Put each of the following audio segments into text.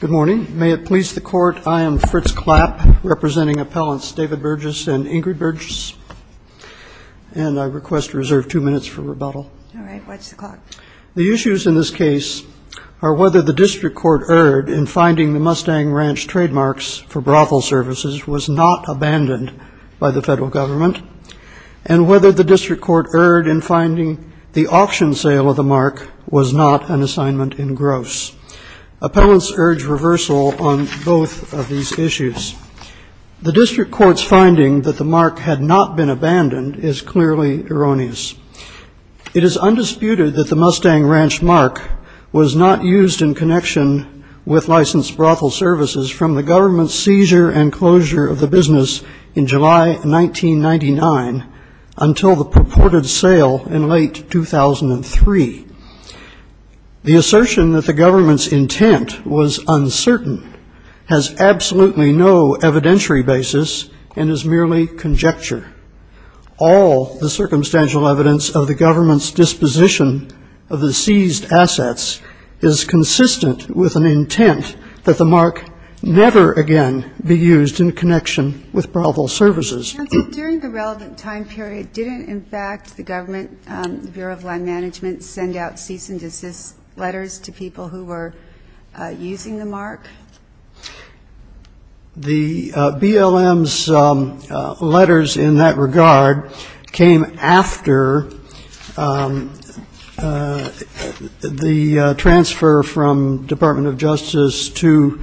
Good morning. May it please the Court, I am Fritz Klapp, representing Appellants David Burgess and Ingrid Burgess, and I request to reserve two minutes for rebuttal. All right. Watch the clock. The issues in this case are whether the District Court erred in finding the Mustang Ranch trademarks for brothel services was not abandoned by the federal government, and whether the District Court erred in finding the auction sale of the mark was not an assignment in gross. Appellants urge reversal on both of these issues. The District Court's finding that the mark had not been abandoned is clearly erroneous. It is undisputed that the Mustang Ranch mark was not used in connection with licensed brothel services from the government's seizure and closure of the business in July 1999 until the purported sale in late 2003. The assertion that the government's intent was uncertain has absolutely no evidentiary basis and is merely conjecture. All the circumstantial evidence of the government's disposition of the seized assets is consistent with an intent that the mark never again be used in connection with brothel services. And so during the relevant time period, didn't, in fact, the government, the Bureau of Land Management, send out cease and desist letters to people who were using the mark? The BLM's letters in that regard came after the transfer from the Bureau of Land Management Department of Justice to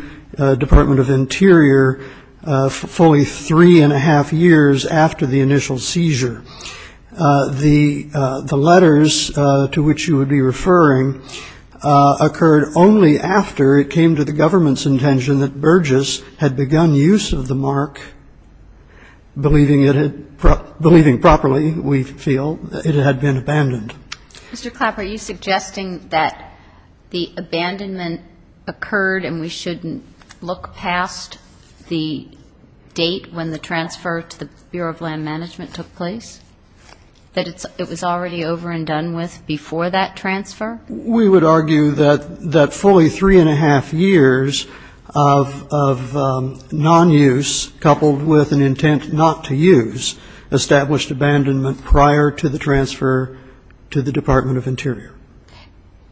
Department of Interior fully three and a half years after the initial seizure. The letters to which you would be referring occurred only after it came to the government's intention that Burgess had begun use of the mark, believing it had, believing properly, we feel, it had been abandoned. Mr. Clapp, are you suggesting that the abandonment occurred and we shouldn't look past the date when the transfer to the Bureau of Land Management took place, that it was already over and done with before that transfer? We would argue that fully three and a half years of non-use coupled with an intent not to use established abandonment prior to the transfer to the Department of Interior.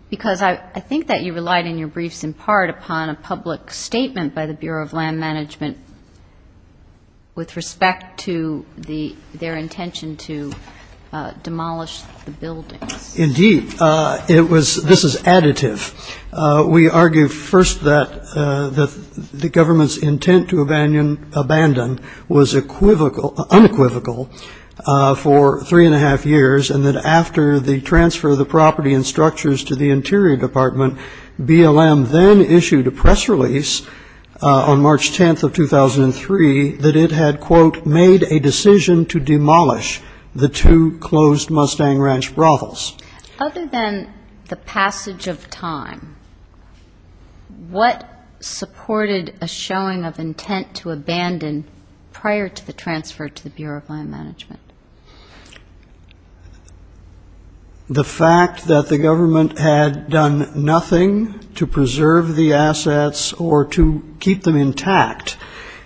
Because I think that you relied in your briefs in part upon a public statement by the Bureau of Land Management with respect to their intention to demolish the buildings. Indeed. It was, this is additive. We argue first that the government's intent to abandon was unequivocal for three and a half years and that after the transfer of the property and structures to the Interior Department, BLM then issued a press release on March 10th of 2003 that it had, quote, made a decision to demolish the two closed Mustang Ranch brothels. Other than the passage of time, what supported a showing of intent to abandon the buildings prior to the transfer to the Bureau of Land Management? The fact that the government had done nothing to preserve the assets or to keep them intact.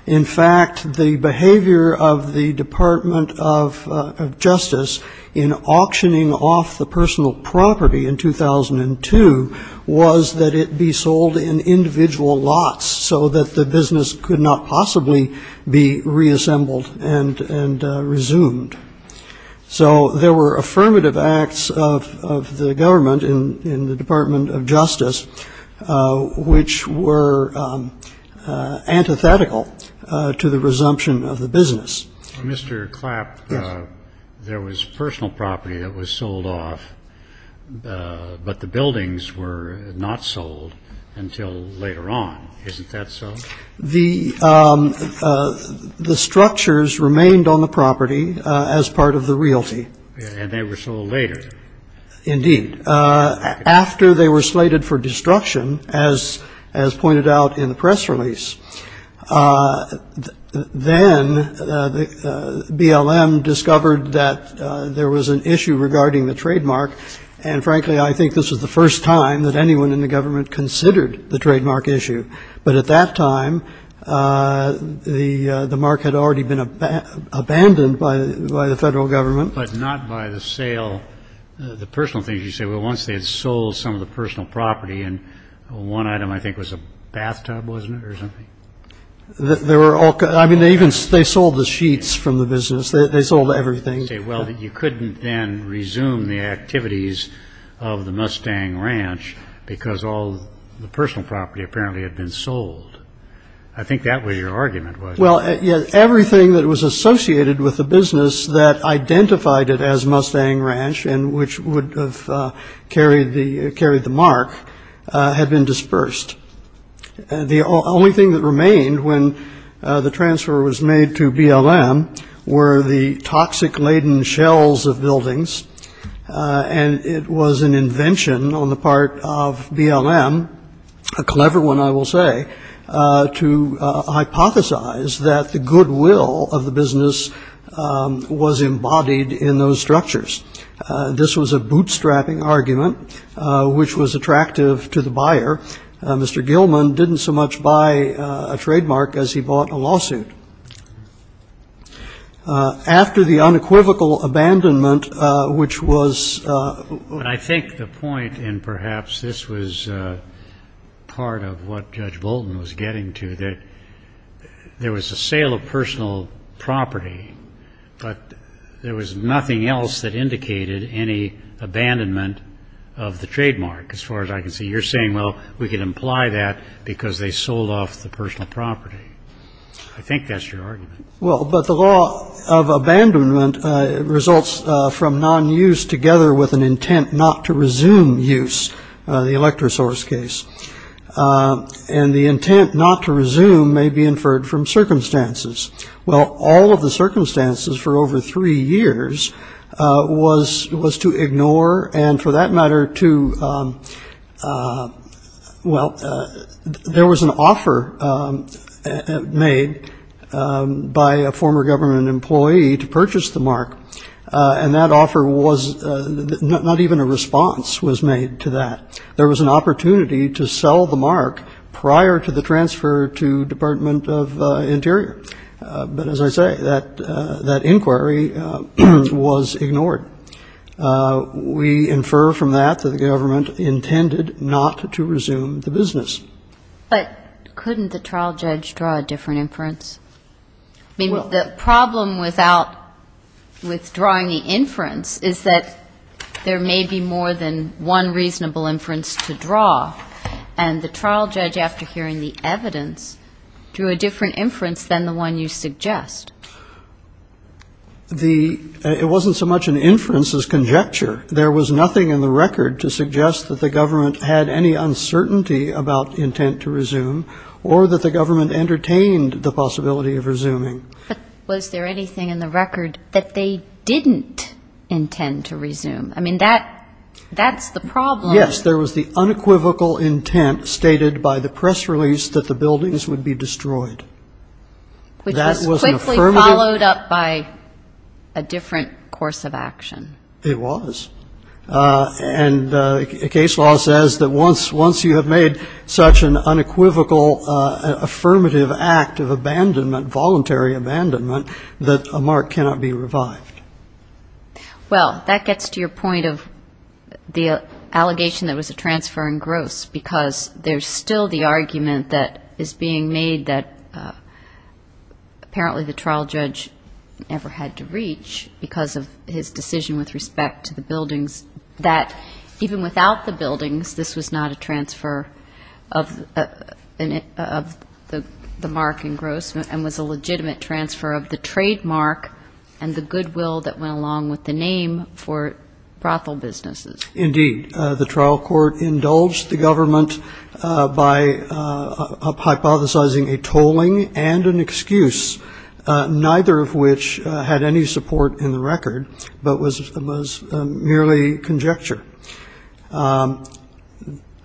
In fact, the behavior of the Department of Justice in auctioning off the personal property in 2002 was that it be sold in individual lots so that the business could not possibly be reassembled and resumed. So there were affirmative acts of the government in the Department of Justice which were antithetical to the resumption of the business. Mr. Clapp, there was personal property that was sold off, but the buildings were not sold until later on. Isn't that so? The structures remained on the property as part of the realty. And they were sold later. Indeed. After they were slated for destruction, as pointed out in the press release, then BLM discovered that there was an issue regarding the trademark and frankly, I think this was the first time that anyone in the government considered the trademark issue. But at that time, the mark had already been abandoned by the federal government. But not by the sale, the personal things. You say, well, once they had sold some of the personal property and one item I think was a bathtub, wasn't it, or something? They were all, I mean, they even, they sold the sheets from the business. They sold everything. Well, you couldn't then resume the activities of the Mustang Ranch because all the personal property apparently had been sold. I think that was your argument, wasn't it? Well, everything that was associated with the business that identified it as Mustang Ranch and which would have carried the mark had been dispersed. The only thing that remained when the transfer was made to BLM were the toxic laden shells of buildings. And it was an invention on the part of BLM, a clever one I will say, to hypothesize that the goodwill of the business was embodied in those structures. This was a bootstrapping argument, which was attractive to the buyer. Mr. Gilman didn't so much buy a trademark as he bought a lawsuit. After the unequivocal abandonment, which was what I think the point, and perhaps this was part of what Judge Bolton was getting to, that there was a sale of personal property, but there was nothing else that indicated any abandonment of the trademark, as far as I can see. You're saying, well, we can imply that because they sold off the personal property. I think that's your argument. Well, but the law of abandonment results from non-use together with an intent not to resume use, the electrosource case. And the intent not to resume may be inferred from circumstances. Well, all of the circumstances for over three years was to ignore, and for that matter to, well, there was an offer made by a former government employee to purchase the mark. And that offer was, not even a response was made to that. There was an opportunity to buy it. But as I say, that inquiry was ignored. We infer from that that the government intended not to resume the business. But couldn't the trial judge draw a different inference? I mean, the problem with drawing the inference is that there may be more than one reasonable inference to draw. And the trial judge, after hearing the evidence, drew a different inference than the one you suggest. It wasn't so much an inference as conjecture. There was nothing in the record to suggest that the government had any uncertainty about intent to resume or that the government entertained the possibility of resuming. But was there anything in the record that they didn't intend to resume? I mean, that's the problem. Yes, there was the unequivocal intent stated by the press release that the buildings would be destroyed. Which was quickly followed up by a different course of action. It was. And case law says that once you have made such an unequivocal affirmative act of abandonment, voluntary abandonment, that a mark cannot be revived. Well, that gets to your point of the allegation that it was a transfer engrossed because there's still the argument that is being made that apparently the trial judge never had to reach because of his decision with respect to the buildings. That even without the buildings, this was not a transfer of the mark engrossment and was a legitimate transfer of the trademark and the goodwill that went along with the claim for brothel businesses. Indeed. The trial court indulged the government by hypothesizing a tolling and an excuse, neither of which had any support in the record but was merely conjecture.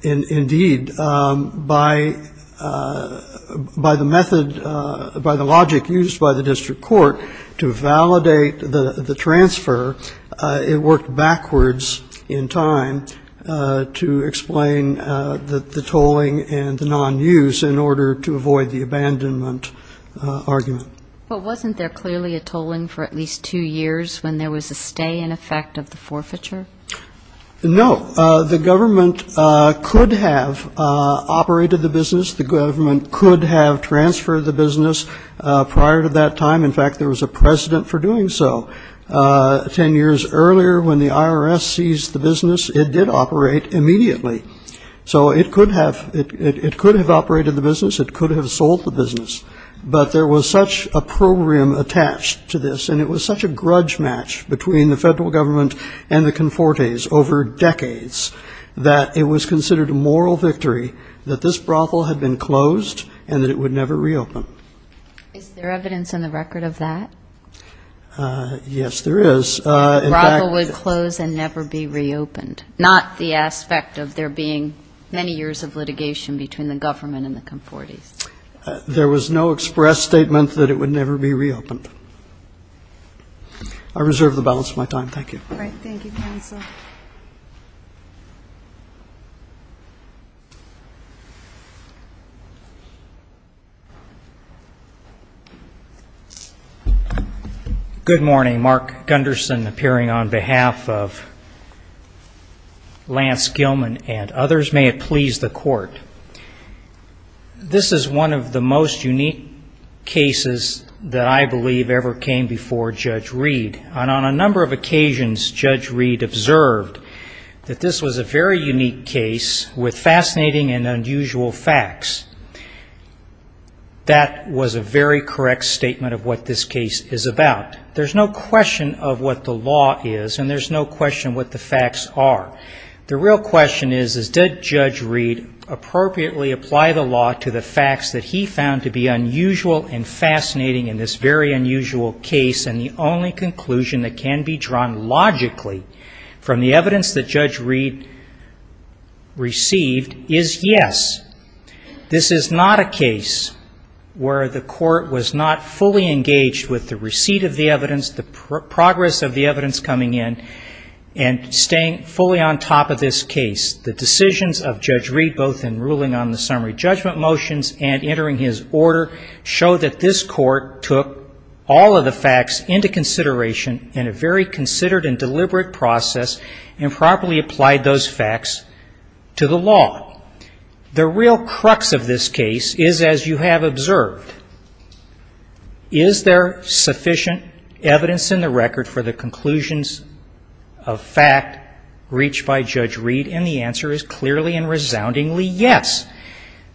Indeed, by the method, by the logic used by the district court to validate the transfer, it worked backwards in time to explain the tolling and the nonuse in order to avoid the abandonment argument. But wasn't there clearly a tolling for at least two years when there was a stay in effect of the forfeiture? No. The government could have operated the business. The government could have transferred the business prior to that time. In fact, there was a precedent for doing so. Ten years earlier when the IRS seized the business, it did operate immediately. So it could have operated the business. It could have sold the business. But there was such a program attached to this and it was such a grudge match between the federal government and the Confortes over decades that it was considered a moral victory that this brothel had been closed and that it would never reopen. Is there evidence in the record of that? Yes, there is. In fact the brothel would close and never be reopened, not the aspect of there being many years of litigation between the government and the Confortes. There was no express statement that it would never be reopened. I reserve the balance of my time. Thank you. All right. Thank you, Counsel. Good morning. Mark Gunderson appearing on behalf of Lance Gilman and others. May it please the Court. This is one of the most unique cases that I believe ever came before Judge Reed. And on a number of occasions Judge Reed observed that this was a very unique case with fascinating and unusual facts. That was a very correct statement of what this case is about. There's no question of what the law is and there's no question what the facts are. The real question is did Judge Reed appropriately apply the law to the facts that he found to be unusual and fascinating in this very unusual case? And the only conclusion that can be drawn logically from the evidence that Judge Reed received is yes. This is not a case where the Court was not fully engaged with the receipt of the evidence, the progress of the evidence coming in, and staying fully on top of this case. The decisions of Judge Reed entering his order show that this Court took all of the facts into consideration in a very considered and deliberate process and properly applied those facts to the law. The real crux of this case is, as you have observed, is there sufficient evidence in the record for the conclusions of fact reached by Judge Reed? And the answer is clearly and resoundingly yes.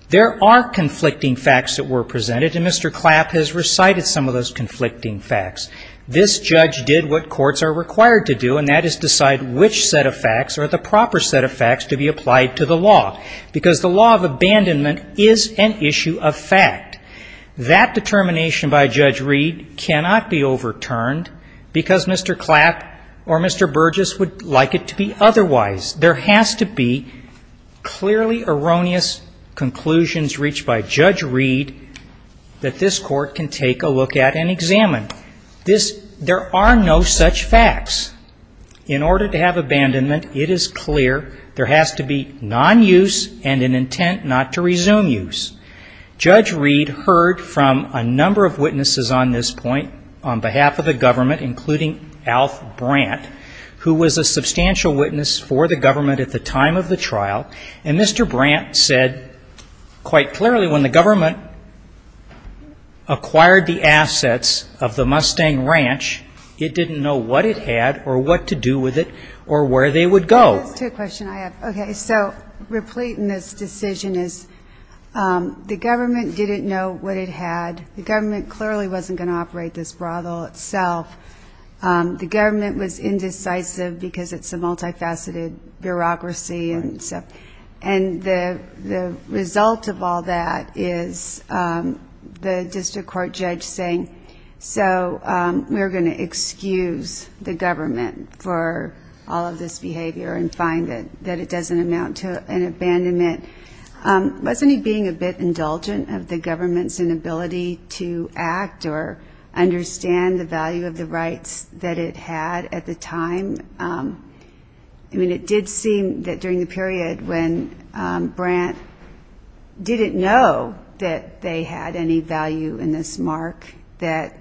There are conflicting facts that were presented and Mr. Clapp has recited some of those conflicting facts. This judge did what courts are required to do and that is decide which set of facts are the proper set of facts to be applied to the law because the law of abandonment is an issue of fact. That determination by Judge Reed cannot be overturned because Mr. Clapp or Mr. Burgess would like it to be otherwise. There has to be clearly erroneous conclusions reached by Judge Reed that this Court can take a look at and examine. There are no such facts. In order to have abandonment, it is clear there has to be non-use and an intent not to resume use. Judge Reed heard from a number of witnesses on this point on the case. One of them was Mr. D. Alf Brandt, who was a substantial witness for the government at the time of the trial. And Mr. Brandt said quite clearly when the government acquired the assets of the Mustang Ranch, it didn't know what it had or what to do with it or where they would go. I have two questions I have. Okay. So replete in this decision is the government didn't know what it had. The government clearly wasn't going to operate this brothel itself. The government was indecisive because it's a multifaceted bureaucracy. And the result of all that is the district court judge saying, so we're going to excuse the government for all of this behavior and find that it doesn't amount to an abandonment. Wasn't he being a bit indulgent of the government's inability to act or understand the value of the rights that it had at the time? I mean, it did seem that during the period when Brandt didn't know that they had any value in this mark that,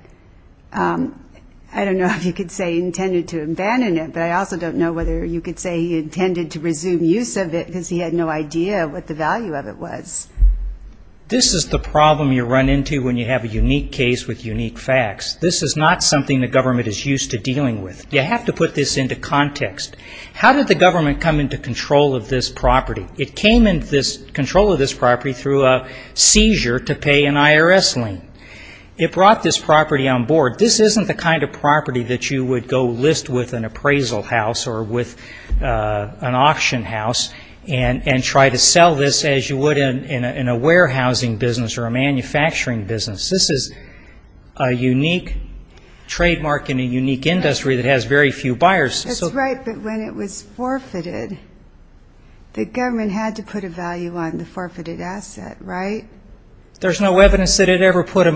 I don't know if you could say he intended to abandon it, but I also don't know whether you could say he intended to resume use of it because he had no idea what the value of it was. This is the problem you run into when you have a unique case with unique facts. This is not something the government is used to dealing with. You have to put this into context. How did the government come into control of this property? It came into control of this property through a seizure to pay an IRS lien. It brought this property on board. This isn't the kind of property that you would go list with an appraisal house or with an auction house and try to sell this as you would in a warehousing business or a manufacturing business. This is a unique trademark in a unique industry that has very few buyers. That's right, but when it was forfeited, the government had to put a value on the forfeited asset, right? There's no evidence that it ever put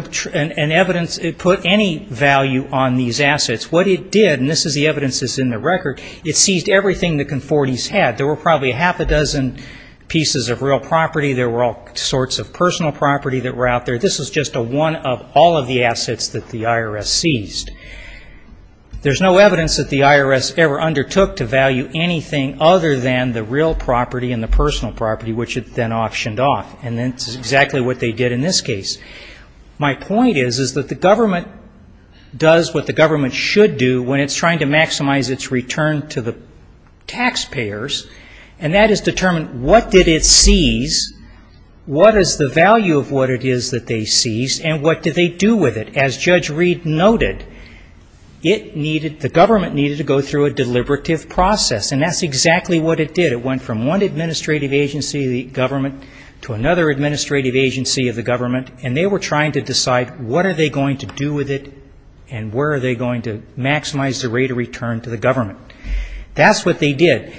any value on these assets. What it did, and this is the evidence that's in the record, it seized everything the Confortis had. There were probably half a dozen pieces of real property. There were all sorts of personal property that were out there. This was just one of all of the assets that the IRS seized. There's no evidence that the IRS ever undertook to value anything other than the real property and the personal property, which it then auctioned off, and that's exactly what they did in this case. My point is that the government does what the government should do when it's trying to maximize its return to the taxpayers, and that is determine what did it seize, what is the value of what it is that they seized, and what did they do with it? As Judge Reed noted, the government needed to go through a deliberative process, and that's exactly what it did. It went from one administrative agency of the government to another administrative agency of the government, and they were trying to decide what are they going to do with it and where are they going to maximize the rate of return to the government. That's what they did.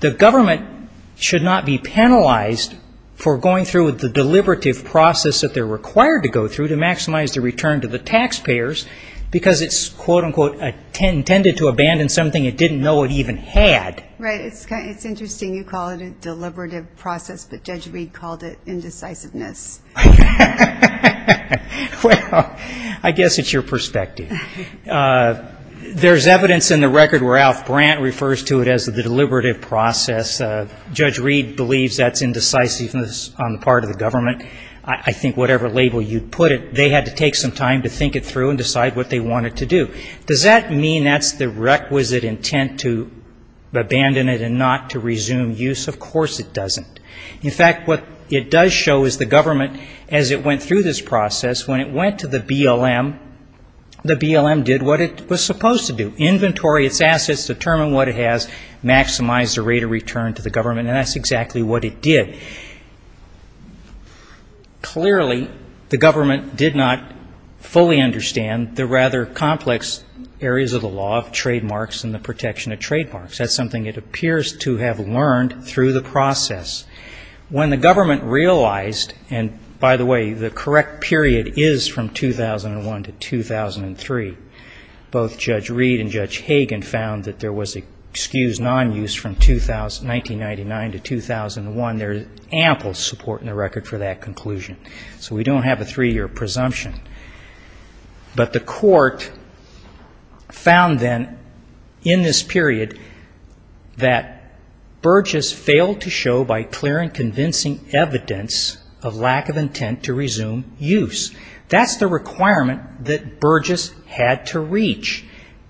The government should not be penalized for going through the deliberative process that they're required to go through to maximize the return to the taxpayers, because it's intended to abandon something it didn't know it even had. Right. It's interesting you call it a deliberative process, but Judge Reed called it indecisiveness. I guess it's your perspective. There's evidence in the record where Alf Brandt refers to it as the deliberative process. Judge Reed believes that's indecisiveness on the part of the government. I think whatever label you put it, they had to take some time to think it through and decide what they wanted to do. Does that mean that's the requisite intent to abandon it and not to resume use? Of course it doesn't. In fact, what it does show is the government, as it went through this process, when it went to the BLM, the BLM did what it was supposed to do, inventory its assets, determine what it has, maximize the rate of return to the government, and that's exactly what it did. Clearly, the government did not fully understand the rather complex areas of the law of trademarks and the protection of trademarks. That's something it appears to have learned through the process. When the government realized, and by the way, the correct period is from 2001 to 2003. Both Judge Reed and Judge Hagan found that there was excused non-use from 1999 to 2001. There's ample support in the record for that conclusion. We don't have a three-year presumption. But the court found then in this period that Burgess failed to show by clear and convincing evidence of lack of intent to resume use. That's the requirement that Burgess had to reach.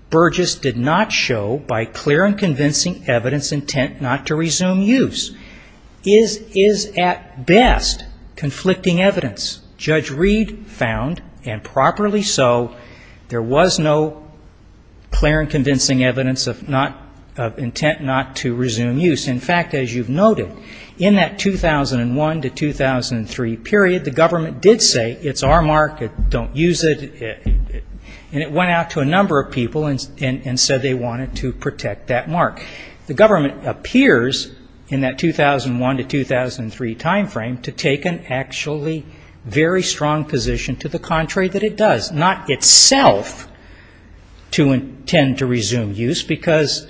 Burgess did not show by clear and convincing evidence intent not to resume use. Is at best conflicting evidence. Judge Reed found, and properly so, there was no clear and convincing evidence of intent not to resume use. In fact, as you've noted, in that 2001 to 2003 period, the government did say, it's our mark, don't use it, and it went out to a number of people and said they wanted to protect that mark. The government appears in that 2001 to 2003 time frame to take an actually very strong position to the contrary that it does. Not itself to intend to resume use because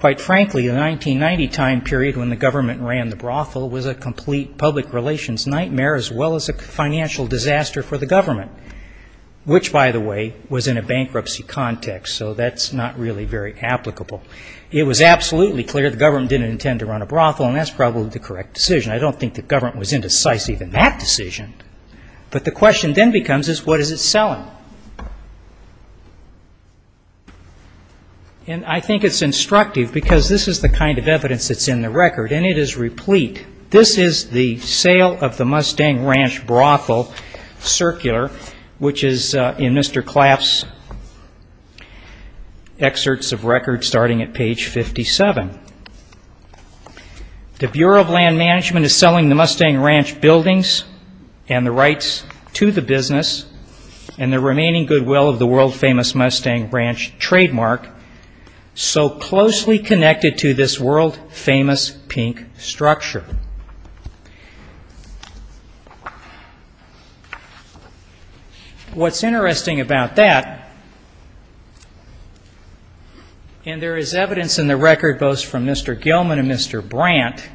quite frankly, the 1990 time period when the government ran the brothel was a complete public relations nightmare as well as a financial disaster for the government, which, by the way, was in a bankruptcy context. So that's not really very applicable. It was absolutely clear the government didn't intend to run a brothel, and that's probably the correct decision. I don't think the government was indecisive in that decision. But the question then becomes is what is it selling? And I think it's instructive because this is the kind of evidence that's in the record, and it is replete. This is the sale of the Mustang Ranch Brothel Circular, which is in Mr. Claff's excerpts of record starting at page 57. The Bureau of Land Management is selling the Mustang Ranch buildings and the rights to the business and the remaining goodwill of the world-famous Mustang Ranch trademark so closely connected to this world-famous pink structure. What's interesting about that, and there is evidence in the record both from Mr. Gilman and Mr. Brandt,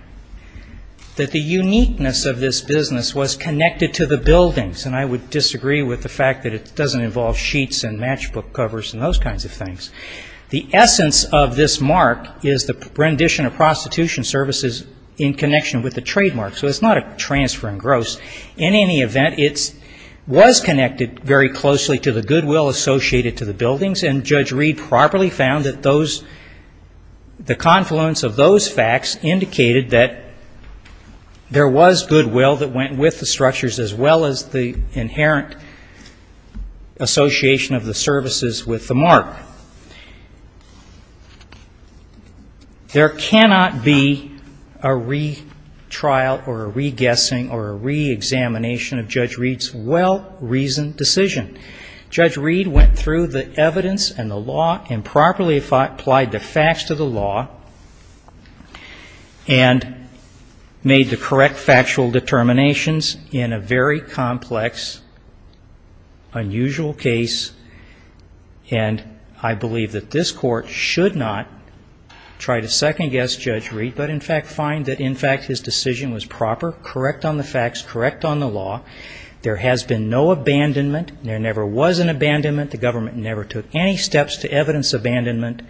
that the uniqueness of this business was connected to the buildings. And I would disagree with the fact that it doesn't involve sheets and matchbook covers and those kinds of things. The essence of this mark is the rendition of prostitution services in connection with the trademark. So it's not a transfer in gross. In any event, it was connected very closely to the goodwill associated to the buildings, and Judge Reed properly found that those the confluence of those facts indicated that there was goodwill that went with the structures as well as the inherent association of the services with the mark. There cannot be a retrial or a re-guessing or a re-examination of Judge Reed's well-reasoned decision. Judge Reed went through the evidence and the law and properly applied the facts of the law and made the correct factual determinations in a very complex, unusual case. And I believe that this Court should not try to second-guess Judge Reed, but in fact find that in fact his decision was proper, correct on the facts, correct on the law. There has been no abandonment. There never was an abandonment. The government never took any steps to evidence abandonment,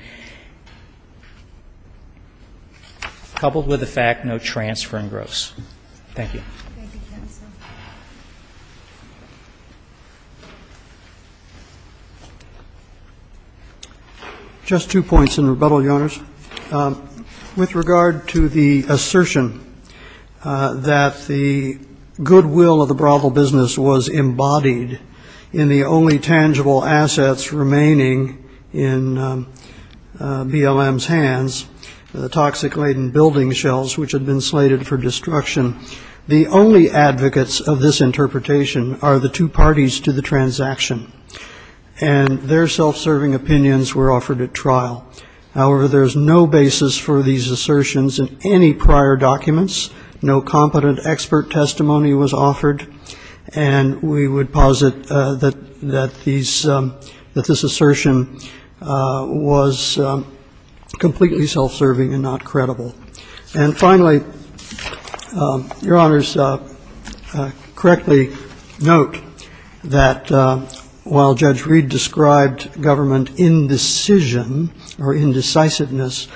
coupled with the fact no transfer in gross. Thank you. Just two points in rebuttal, Your Honors. With regard to the assertion that the goodwill of the brothel business was embodied in the only tangible assets remaining in BLM's hands, the toxic-laden building shells which had been slated for destruction, the only advocates of this interpretation are the two parties to the transaction, and their self-serving opinions were offered at trial. However, there is no basis for these assertions in any prior documents. No competent expert testimony was offered. And we would posit that these – that this assertion was completely self-serving and not credible. And finally, Your Honors, I correctly note that while Judge Reed described government indecision or indecisiveness,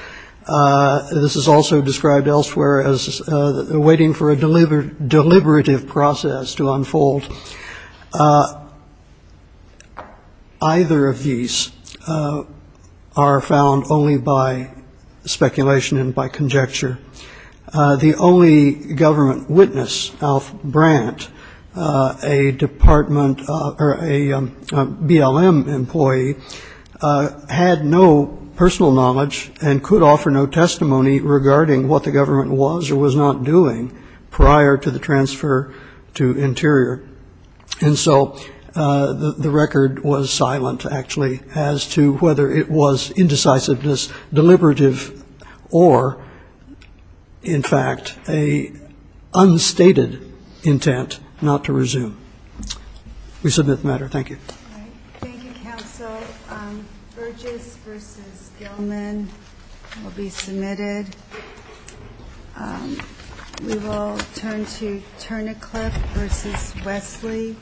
this is also described elsewhere as waiting for a deliberative process to unfold. Either of these are found only by speculation and by conjecture. The only government witness, Alf Brandt, a department – or a BLM employee, was the only government witness who had no personal knowledge and could offer no testimony regarding what the government was or was not doing prior to the transfer to Interior. And so the record was silent, actually, as to whether it was indecisiveness, deliberative, or, in fact, a unstated intent not to resume. We submit the matter. Thank you. All right. Thank you, counsel. Burgess v. Gilman will be submitted. We will turn to Turnicliffe v. Wesley. Marianne?